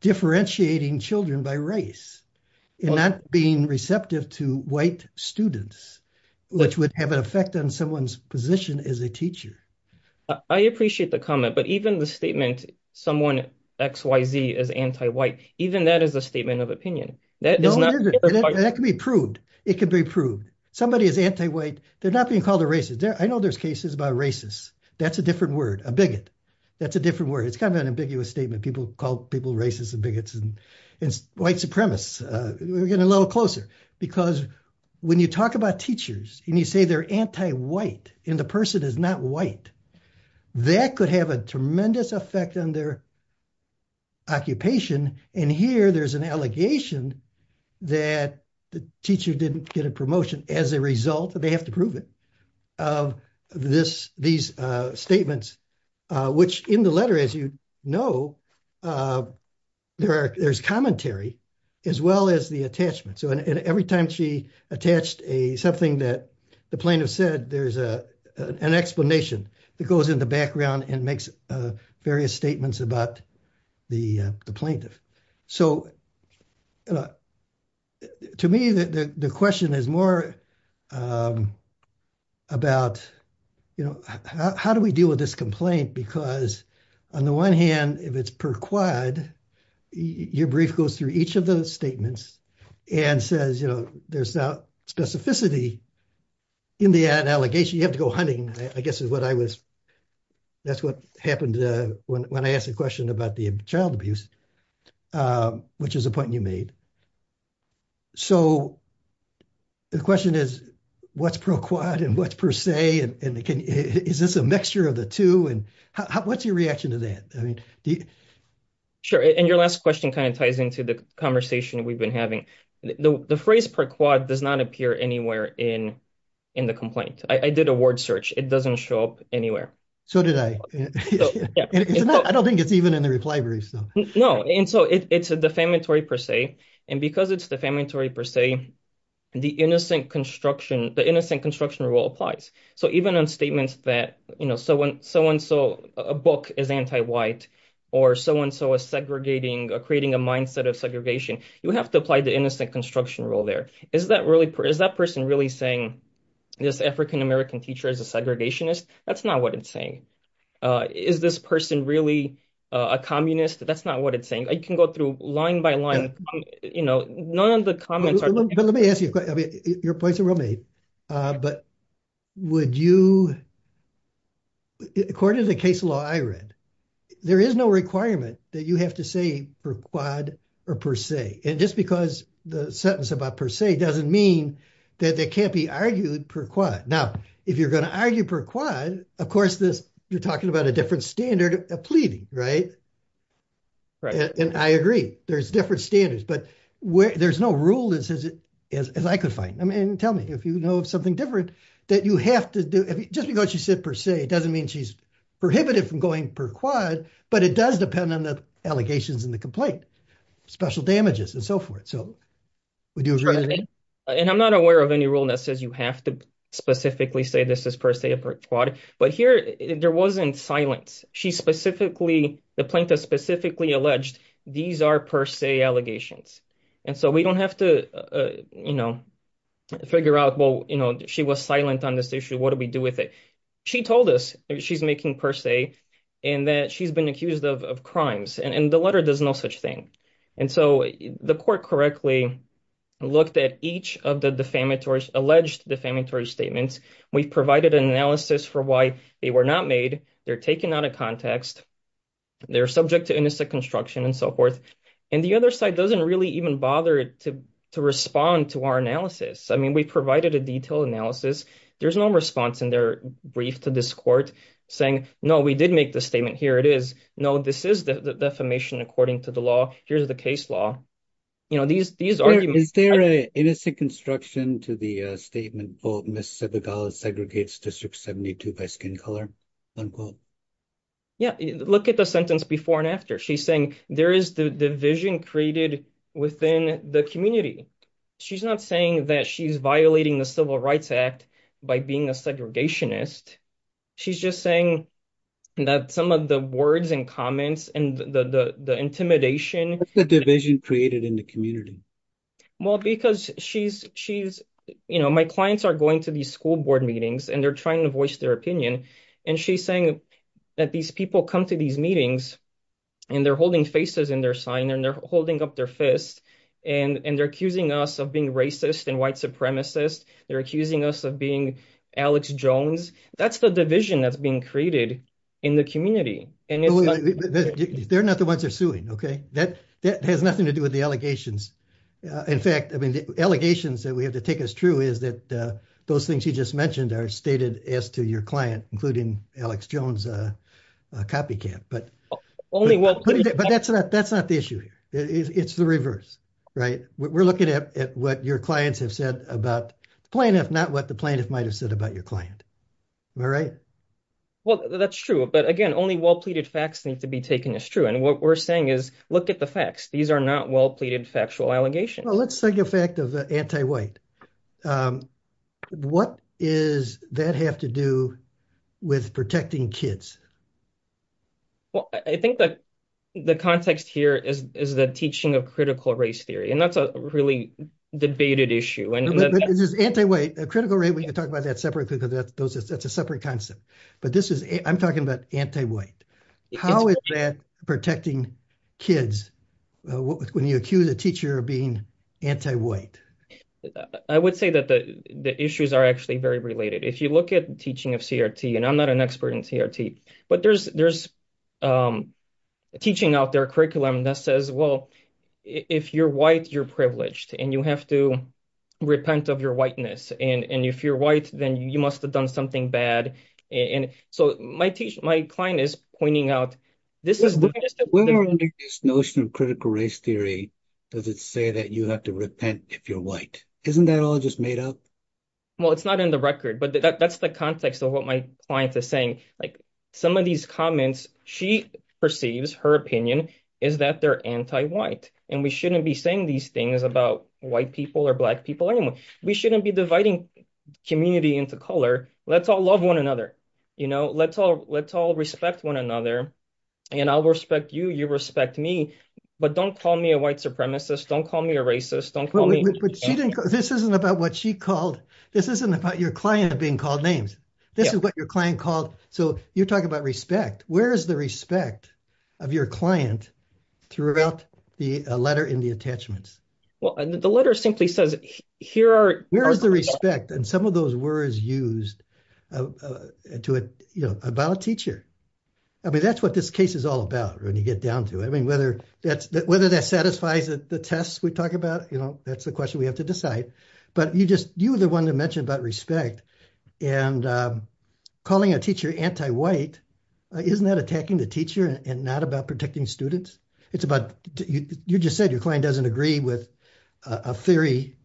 differentiating children by race and not being receptive to white students, which would have an effect on someone's position as a teacher. I appreciate the comment, but even the statement, someone X, Y, Z is anti-white, even that is a statement of opinion. That can be proved. It can be proved. Somebody is anti-white. They're not being called a racist. I know there's cases about racists. That's a different word, a bigot. That's a different word. It's kind of an ambiguous statement. People call people racists and bigots and white supremacists. We're getting a little closer because when you talk about teachers and you say they're anti-white and the person is not white, that could have a tremendous effect on their occupation. Here, there's an allegation that the teacher didn't get a promotion as a result, and they have to prove it, of these statements, which in the letter, as you know, there's commentary as well as the attachment. Every time she attached something that the plaintiff said, there's an explanation that goes in the background and makes various statements about the plaintiff. To me, the question is more about how do we deal with this complaint because on the one hand, if it's per quad, your brief goes through each of those statements and says, you know, there's that specificity in that allegation. You have to go hunting, I guess is what I was, that's what happened when I asked the question about the child abuse, which is a point you made. So the question is, what's pro-quad and what's per se? Is this a mixture of the two? What's your reaction to that? Sure, and your last question kind of ties into the conversation we've been having. The phrase per quad does not appear anywhere in the complaint. I did a word search, it doesn't show up anywhere. So did I. I don't think it's even in the reply brief. No, and so it's a defamatory per se, and because it's defamatory per se, the innocent construction rule applies. So even on statements that, you know, so-and-so, a book is anti-white or so-and-so is segregating, creating a mindset of segregation, you have to apply the innocent construction rule there. Is that person really saying this African-American teacher is a segregationist? That's not what it's saying. Is this person really a communist? That's not what it's saying. I can go through line by line. None of the comments are- Let me ask you, your points are well made, but would you, according to the case law I read, there is no requirement that you have to say per quad or per se. And just because the sentence about per se doesn't mean that they can't be argued per quad. Now, if you're going to argue per quad, of course, you're talking about a different standard of pleading, right? And I agree, there's different standards, but there's no rule that says it, as I could find. I mean, tell me, if you know of something different that you have to do, just because she said per se, it doesn't mean she's prohibited from going per quad, but it does depend on the allegations in the complaint, special damages and so forth. So would you agree? And I'm not aware of any rule that says you have to specifically say this is per quad, but here there wasn't silence. She specifically, the plaintiff specifically alleged these are per se allegations. And so we don't have to figure out, well, she was silent on this issue, what do we do with it? She told us she's making per se and that she's been accused of crimes and the letter does no such thing. And so the court correctly looked at each of the defamatory, alleged defamatory statements. We've provided an analysis for why they were not made. They're taken out of context. They're subject to innocent construction and so forth. And the other side doesn't really even bother to respond to our analysis. I mean, we provided a detailed analysis. There's no response in their brief to this court saying, no, we did make the statement. Here it is. No, this is the defamation according to the law. Here's the case law. You know, these arguments. Is there an innocent construction to the statement, quote, Miss Sebagala segregates District 72 by skin color, unquote? Yeah, look at the sentence before and after. She's saying there is the division created within the community. She's not saying that she's violating the Civil Rights Act by being a segregationist. She's just saying that some of the words and comments and the intimidation, the division created in the community. Well, because she's she's you know, my clients are going to these school board meetings and they're trying to voice their opinion. And she's saying that these people come to these meetings and they're holding faces in their sign and they're holding up their fist and they're accusing us of being racist and white supremacist. They're accusing us of being Alex Jones. That's the division that's being created in the community. And they're not the ones are suing. OK, that that has nothing to do with the allegations. In fact, I mean, the allegations that we have to take as true is that those things you just mentioned are stated as to your client, including Alex Jones copycat. But only one. But that's not that's not the issue. It's the reverse. Right. We're looking at what your clients have said about the plaintiff, not what the plaintiff might have said about your client. All right. Well, that's true. But again, only well-pleaded facts need to be taken as true. And what we're saying is look at the facts. These are not well-pleaded factual allegations. Well, let's take a fact of the anti-white. What is that have to do with protecting kids? Well, I think that the context here is the teaching of critical race theory, and that's a really debated issue. And this is anti-white, a critical rate. We can talk about that separately because that's a separate concept. But this is I'm talking about anti-white. How is that protecting kids when you accuse a teacher of being anti-white? I would say that the issues are actually very related. If you look at teaching of CRT, and I'm not an expert in CRT, but there's there's teaching out their curriculum that says, well, if you're white, you're privileged and you have to repent of your whiteness. And if you're white, then you must have done something bad. And so my client is pointing out this is the notion of critical race theory. Does it say that you have to repent if you're white? Isn't that all just made up? Well, it's not in the record, but that's the context of what my client is saying. Like some of these comments, she perceives her opinion is that they're anti-white and we shouldn't be saying these things about white people or black people anymore. We shouldn't be dividing community into color. Let's all love one another. You know, let's all let's all respect one another. And I'll respect you. You respect me. But don't call me a white supremacist. Don't call me a racist. Don't call me. But this isn't about what she called. This isn't about your client being called names. This is what your client called. So you're talking about respect. Where is the respect of your client throughout the letter in the attachments? Well, the letter simply says here are where is the respect and some of those words used to it about a teacher. I mean, that's what this case is all about when you get down to it. I mean, whether that's whether that satisfies the tests we talk about, you know, that's the question we have to decide. But you just you are the one to mention about respect and calling a teacher anti-white. Isn't that attacking the teacher and not about protecting students? It's about you just said your client doesn't agree with a theory,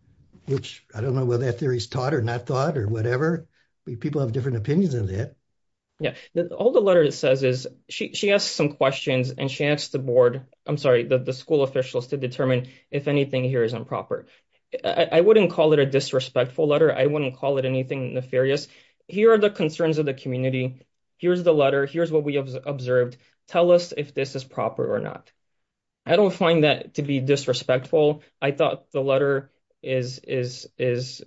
which I don't know whether that theory is taught or not thought or whatever. People have different opinions of that. Yeah. All the letter it says is she has some questions and she asked the board. I'm sorry that the school officials to determine if anything here is improper. I wouldn't call it a disrespectful letter. I wouldn't call it anything nefarious. Here are the concerns of the community. Here's the letter. Here's what we have observed. Tell us if this is proper or not. I don't find that to be disrespectful. I thought the letter is is is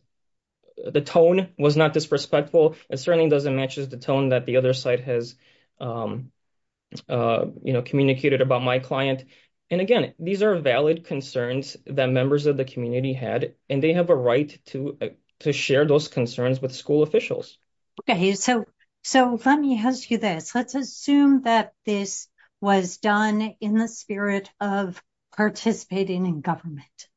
the tone was not disrespectful. It certainly doesn't match the tone that the other side has you know, communicated about my client. And again, these are valid concerns that members of the community had and they have a right to to share those concerns with school officials. Okay. So so let me ask you this. Let's assume that this was done in the spirit of participating in government.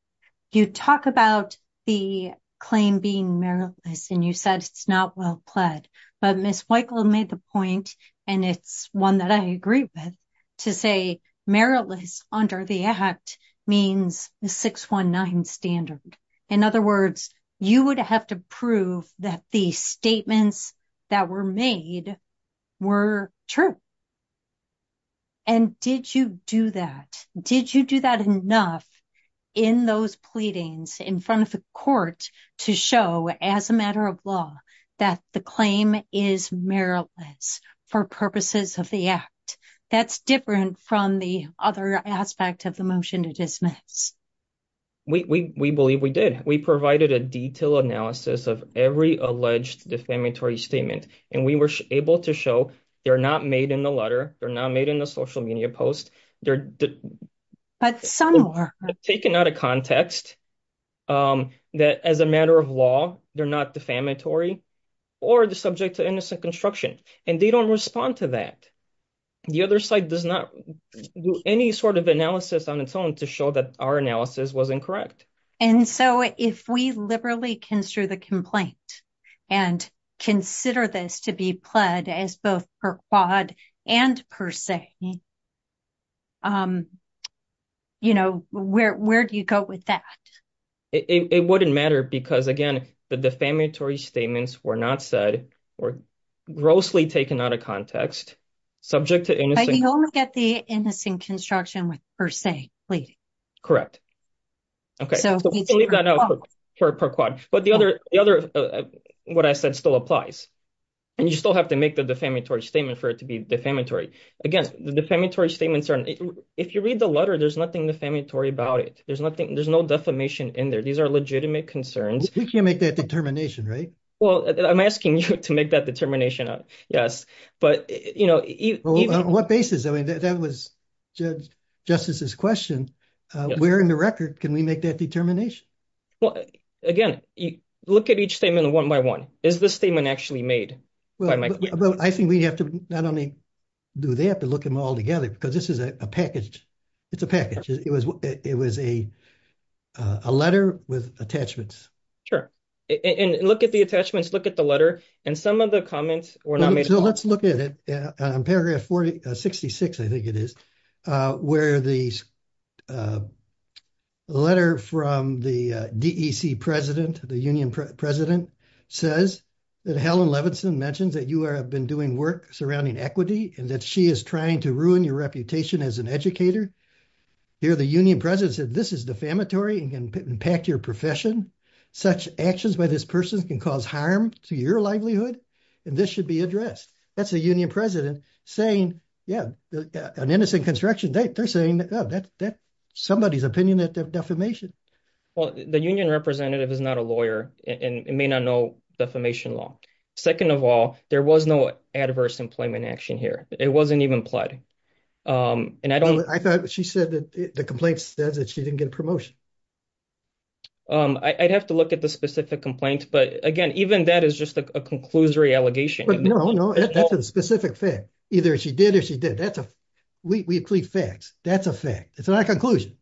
You talk about the claim being meritless and you said it's not well pled, but Ms. Weichel made the point and it's one that I agree with to say meritless under the act means the 619 standard. In other words, you would have to prove that the statements that were made were true. And did you do that? Did you do that enough in those pleadings in front of the court to show as a matter of law that the claim is meritless for purposes of the act? That's different from the other aspect of the motion to dismiss. We believe we did. We provided a detailed analysis of every alleged defamatory statement and we were able to show they're not made in the letter. They're not made in the social media post. They're taken out of context that as a matter of law, they're not defamatory or the subject to innocent construction and they respond to that. The other side does not do any sort of analysis on its own to show that our analysis was incorrect. And so if we liberally consider the complaint and consider this to be pled as both per quad and per se, you know, where do you go with that? It wouldn't matter because, again, the defamatory statements were not said or grossly taken out of context, subject to innocent construction with per se pleading. Correct. Okay. But the other what I said still applies and you still have to make the defamatory statement for it to be defamatory. Again, the defamatory statements are, if you read the letter, there's nothing defamatory about it. There's no defamation in there. These are legitimate concerns. You can't make that determination, right? Well, I'm asking you to make that determination. Yes. But, you know, what basis? I mean, that was Justice's question. Where in the record can we make that determination? Well, again, look at each statement one by one. Is this statement actually made? I think we have to not only do that, but look them all together because this is a package. It's a package. It was a letter with attachments. Sure. And look at the attachments, look at the letter, and some of the comments were not made. So let's look at it. Paragraph 466, I think it is, where the letter from the DEC president, the union president, says that Helen Levinson mentions that you have been doing work surrounding equity and that she is trying to ruin your reputation as an educator. Here, the union president said this is defamatory and can impact your profession. Such actions by this person can cause harm to your livelihood, and this should be addressed. That's a union president saying, yeah, an innocent construction, they're saying, oh, that's somebody's opinion that defamation. Well, the union representative is not a lawyer and may not know defamation law. Second of all, there was no adverse employment action here. It wasn't even implied. I thought she said that the complaint says that she didn't get a promotion. I'd have to look at the specific complaint, but again, even that is just a conclusory allegation. No, no, that's a specific fact. Either she did or she didn't. That's a fact. We include facts. That's a fact. It's not a conclusion.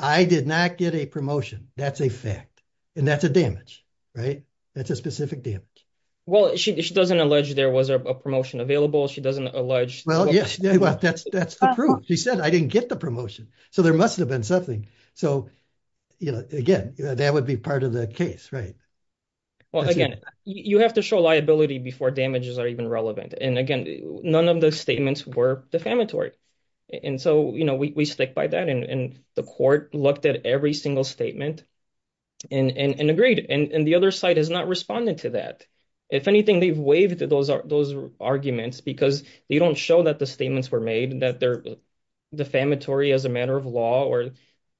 I did not get a promotion. That's a fact. And that's a damage, right? That's a specific damage. Well, she doesn't allege there was a promotion available. She doesn't allege. Well, yes, that's the proof. She said I didn't get the promotion, so there must have been something. So again, that would be part of the case, right? Well, again, you have to show liability before damages are even relevant. And again, none of the statements were defamatory. And so we stick by that, and the court looked at every single statement and agreed. And the other side has not responded to that. If anything, they've waived those arguments because they don't show that the statements were made, that they're defamatory as a matter of law, or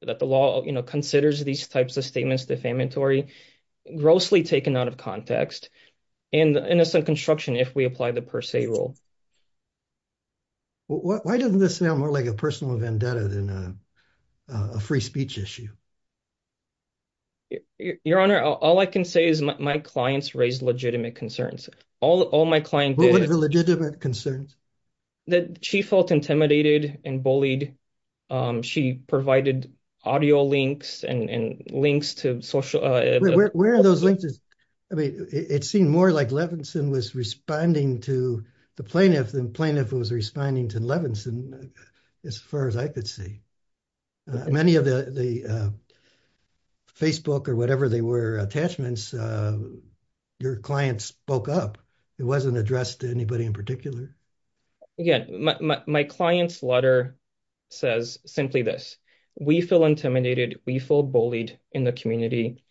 that the law considers these types of statements defamatory, grossly taken out of context, and innocent construction if we apply the per se rule. Why doesn't this sound more like a personal vendetta than a free speech issue? Your Honor, all I can say is my clients raised legitimate concerns. All my clients did... What were the legitimate concerns? That she felt intimidated and bullied. She provided audio links and links to social... Where are those links? I mean, it seemed more like Levinson was responding to the plaintiff than the plaintiff was responding to Levinson, as far as I could see. Many of the Facebook or whatever they were, attachments, your client spoke up. It wasn't addressed to anybody in particular. Yeah. My client's letter says simply this, we feel intimidated, we feel bullied in the community.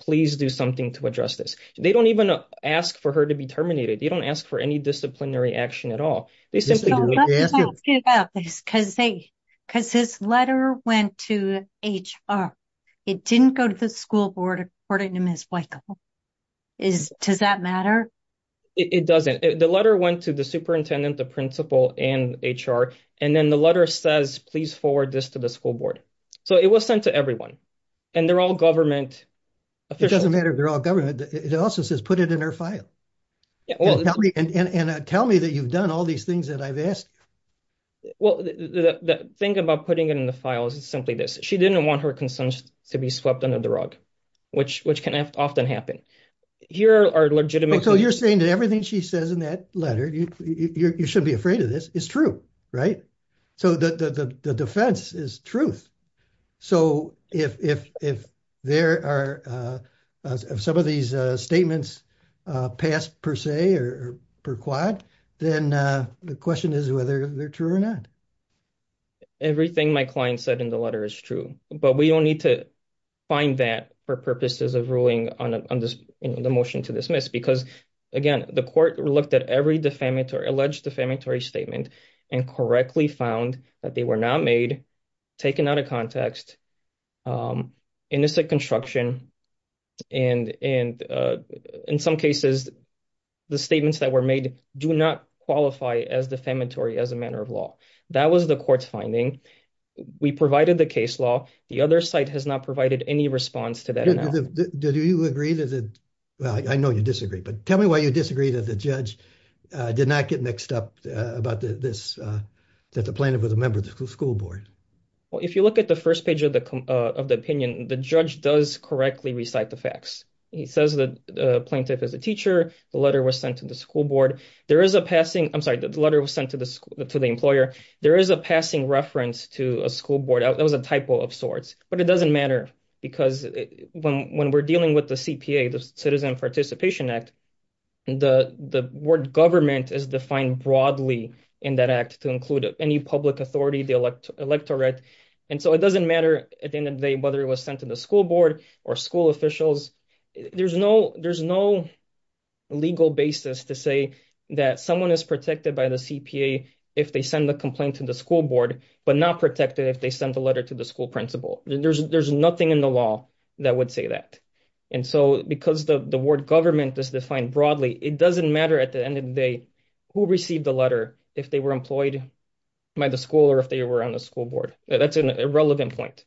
Please do something to address this. They don't even ask for her to be terminated. They don't ask for any disciplinary action at all. They simply... Because his letter went to HR. It didn't go to the school board, according to Ms. Weickel. Does that matter? It doesn't. The letter went to the superintendent, the principal, and HR. And then the letter says, please forward this to the school board. So it was sent to everyone. And they're all government... It doesn't matter if they're all government. It also says, put it in her file. Well, tell me that you've done all these things that I've asked. Well, the thing about putting it in the file is simply this. She didn't want her concerns to be swept under the rug, which can often happen. Here are legitimate... So you're saying that everything she says in that letter, you shouldn't be afraid of this, is true, right? So the defense is truth. So if there are some of these statements passed per se or per quad, then the question is whether they're true or not. Everything my client said in the letter is true, but we don't need to find that for purposes of ruling on the motion to dismiss. Because again, the court looked at every defamatory, alleged defamatory statement and correctly found that they were not made, taken out of context, innocent construction. And in some cases, the statements that were made do not qualify as defamatory as a matter of law. That was the court's finding. We provided the case law. The other site has not provided any response to that. Do you agree that... Well, I know you disagree, but tell me why you disagree that the judge did not get mixed up about this, that the plaintiff was a member of the school board. Well, if you look at the first page of the opinion, the judge does correctly recite the facts. He says that the plaintiff is a teacher. The letter was sent to the school board. There is a passing... I'm sorry, the letter was sent to the employer. There is a passing reference to a school board. That was a typo of sorts, but it doesn't matter because when we're dealing with the CPA, the Citizen Participation Act, the word government is defined broadly in that act to include any public authority, the electorate. And so it doesn't matter at the end of the day, whether it was sent to the school board or school officials. There's no legal basis to say that someone is protected by the CPA if they send the complaint to the school board, but not protected if they sent a letter to the school principal. There's nothing in the law that would say that. And so because the word government is defined broadly, it doesn't matter at the end of the day who received the letter, if they were employed by the school or if they were on the school board. That's an irrelevant point.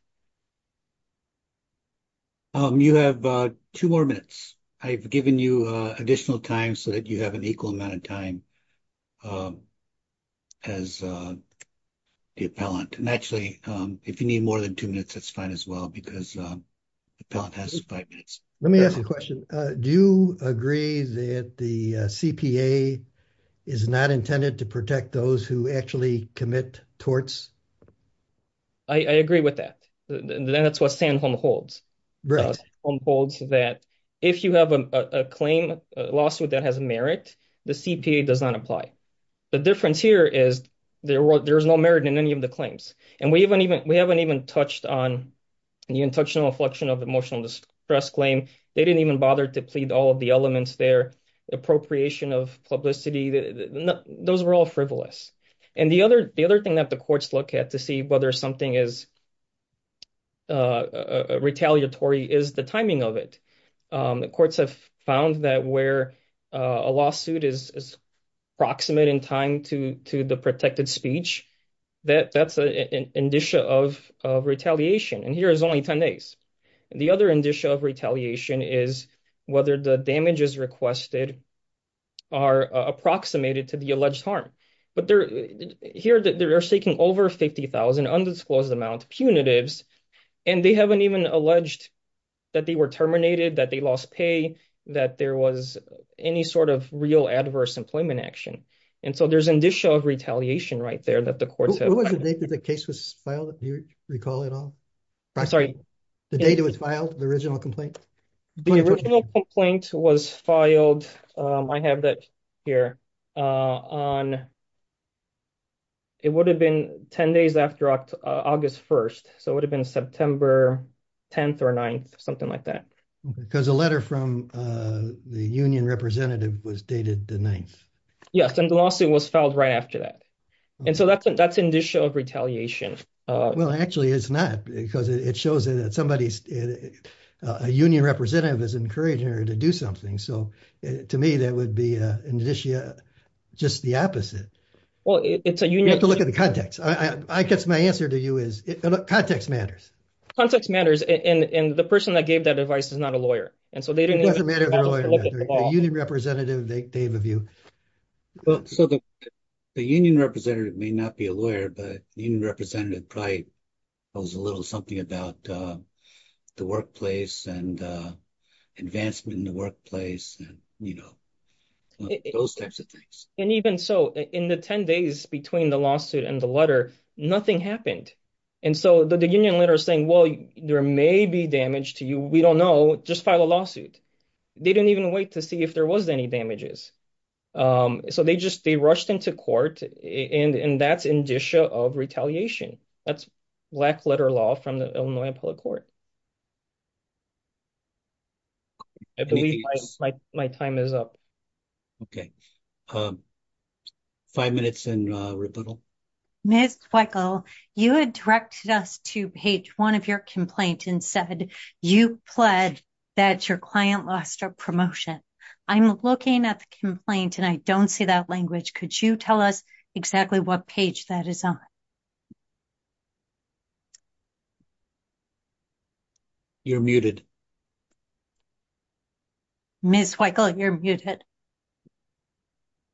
You have two more minutes. I've given you additional time so that you have an equal amount of time as the appellant. And actually, if you need more than two minutes, that's fine as well because the appellant has five minutes. Let me ask you a question. Do you agree that the CPA is not intended to protect those who actually commit torts? I agree with that. That's what San Home holds. Right. San Home holds that if you have a claim, a lawsuit that has merit, the CPA does not apply. The difference here is there's no merit in any of the claims. And we haven't even touched on the intentional inflection of emotional distress claim. They didn't even bother to plead all of the elements there. Appropriation of publicity, those were all frivolous. And the other thing that the courts look at to see whether something is retaliatory is the timing of it. The courts have found that where a lawsuit is proximate in time to the protected speech, that's an indicia of retaliation. And here is only 10 days. The other indicia of retaliation is whether the damages requested are approximated to the alleged harm. But here, they're seeking over 50,000 undisclosed amount punitives. And they haven't even alleged that they were terminated, that they that there was any sort of real adverse employment action. And so there's an indicia of retaliation right there that the courts have. What was the date that the case was filed, if you recall at all? Sorry. The date it was filed, the original complaint? The original complaint was filed, I have that here, on, it would have been 10 days after August 1st. So it would have been September 10th or 9th, something like that. Because a letter from the union representative was dated the 9th. Yes, and the lawsuit was filed right after that. And so that's an indicia of retaliation. Well, actually, it's not, because it shows that somebody's, a union representative is encouraging her to do something. So to me, that would be an indicia, just the opposite. Well, it's a union... You have to look at the context. I guess my answer to you is, context matters. Context matters. And the person that gave that advice is not a lawyer. And so they didn't... It doesn't matter if they're a lawyer or not. A union representative, they have a view. Well, so the union representative may not be a lawyer, but the union representative probably knows a little something about the workplace and advancement in the workplace and, you know, those types of things. And even so, in the 10 days between the lawsuit and the letter, nothing happened. And so the union letter is saying, well, there may be damage to you. We don't know. Just file a lawsuit. They didn't even wait to see if there was any damages. So they just, they rushed into court and that's indicia of retaliation. That's black letter law from the Illinois public court. I believe my time is up. Okay. Five minutes in rebuttal. Ms. Weichel, you had directed us to page one of your complaint and said you pled that your client lost her promotion. I'm looking at the complaint and I don't see that language. Could you tell us exactly what page that is on? You're muted. Ms. Weichel, you're muted.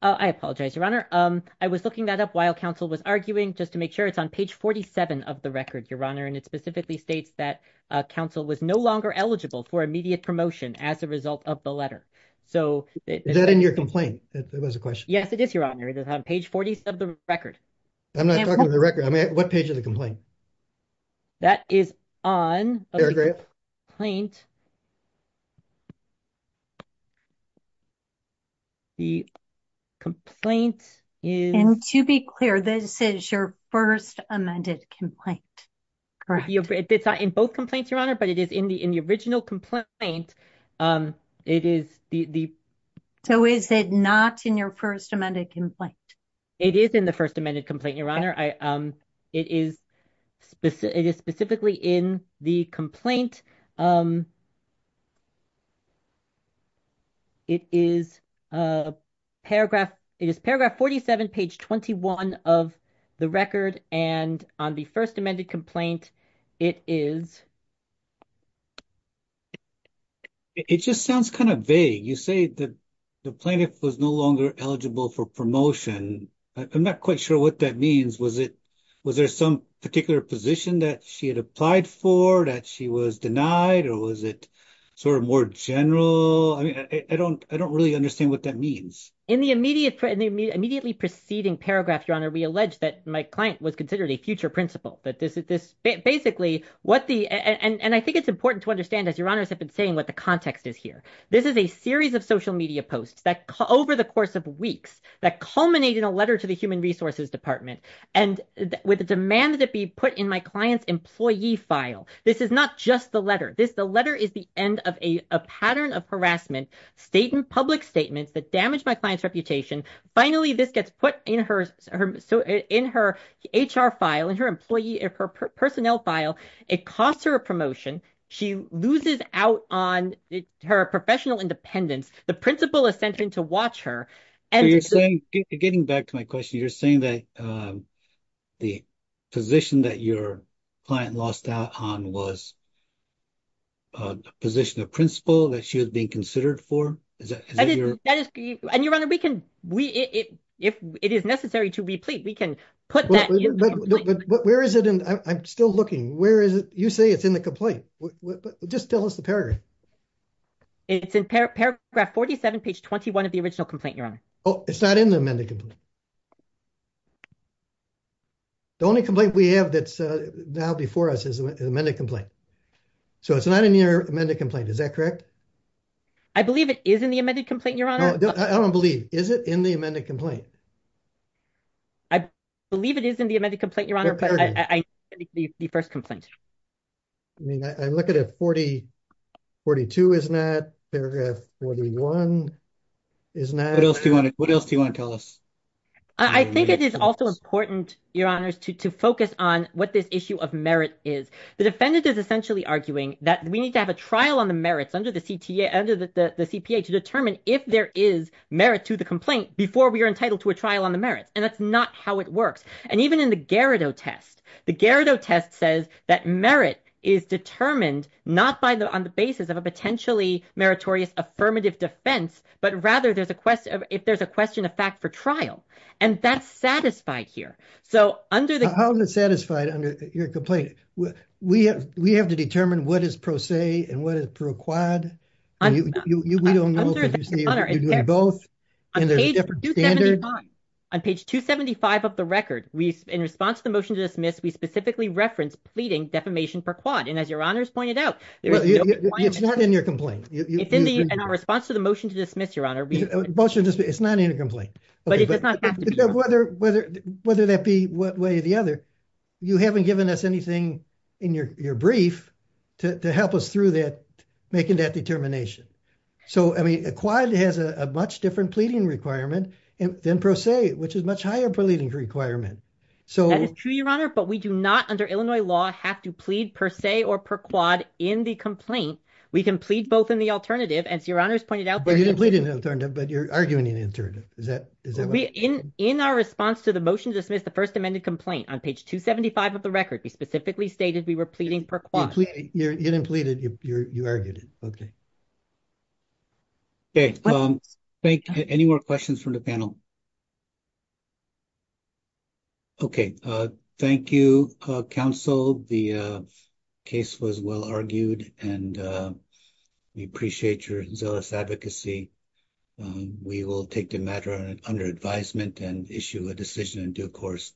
I apologize, Your Honor. I was looking that up while counsel was arguing, just to make sure it's on page 47 of the record, Your Honor. And it specifically states that counsel was no longer eligible for immediate promotion as a result of the letter. Is that in your complaint? That was a question. Yes, it is, Your Honor. It's on page 40 of the record. I'm not talking about the record. I mean, what page of the complaint? That is on the complaint. And to be clear, this is your first amended complaint. Correct. It's not in both complaints, Your Honor, but it is in the original complaint. So is it not in your first amended complaint? It is in the first amended complaint, Your Honor. It is specifically in the complaint. It is paragraph 47, page 21 of the record. And on the first amended complaint, it is... It just sounds kind of vague. You say that the plaintiff was no longer eligible for promotion. I'm not quite sure what that means. Was there some particular position that she had applied for, that she was denied? Or was it sort of more general? I don't really understand what that means. In the immediately preceding paragraph, Your Honor, we allege that my client was considered a future principal. And I think it's important to understand, as Your Honors have been saying, what the context is here. This is a series of social media posts that over the course of weeks, that culminate in a letter to the Human Resources Department, and with a demand that it be put in my client's employee file. This is not just the letter. The letter is the end of a pattern of harassment, state and public statements that damage my client's reputation. Finally, this gets put in her HR file, in her employee, in her personnel file. It costs her a promotion. She loses out on her professional independence. The principal is sent in to watch her. And you're saying, getting back to my question, you're saying that the position that your client lost out on was a position of principal that she was being considered for? And Your Honor, we can, if it is necessary to replete, we can put that. Where is it? I'm still looking. Where is it? You say it's in the complaint. Just tell us the paragraph. It's in paragraph 47, page 21 of the original complaint, Your Honor. Oh, it's not in the amended complaint. The only complaint we have that's now before us is an amended complaint. So it's not in your amended complaint, is that correct? I believe it is in the amended complaint, Your Honor. I don't believe. Is it in the amended complaint? I believe it is in the amended complaint, but I believe it's in the first complaint. I mean, I look at it, 42 is not, paragraph 41 is not. What else do you want to tell us? I think it is also important, Your Honors, to focus on what this issue of merit is. The defendant is essentially arguing that we need to have a trial on the merits under the CPA to determine if there is merit to the complaint before we are entitled to a trial on the merits. And that's not how it works. And even in the Gerrido test, the Gerrido test says that merit is determined not on the basis of a potentially meritorious affirmative defense, but rather if there's a question of fact for trial. And that's satisfied here. How is it satisfied under your complaint? We have to determine what is pro se and what is pro quad? We don't know because you're doing both and there's a different standard. On page 275 of the record, in response to the motion to dismiss, we specifically referenced pleading defamation per quad. And as Your Honors pointed out, it's not in your complaint. It's in our response to the motion to dismiss, Your Honor. It's not in a complaint. But it does not have to be. Whether that be one way or the other, you haven't given us anything in your brief to help us through that, making that determination. So, I mean, a quad has a much different pleading requirement than pro se, which is much higher pleading requirement. That is true, Your Honor, but we do not, under Illinois law, have to plead per se or per quad in the complaint. We can plead both in the alternative, as Your Honors pointed out. But you didn't plead in the alternative, but you're arguing in the alternative. Is that right? In our response to the motion to dismiss the first amended complaint, on page 275 of the record, we specifically stated we were pleading per quad. You didn't plead it, you argued it. Okay. Okay. Any more questions from the panel? Okay. Thank you, counsel. The case was well argued, and we appreciate your zealous advocacy. We will take the matter under advisement and issue a decision in due course.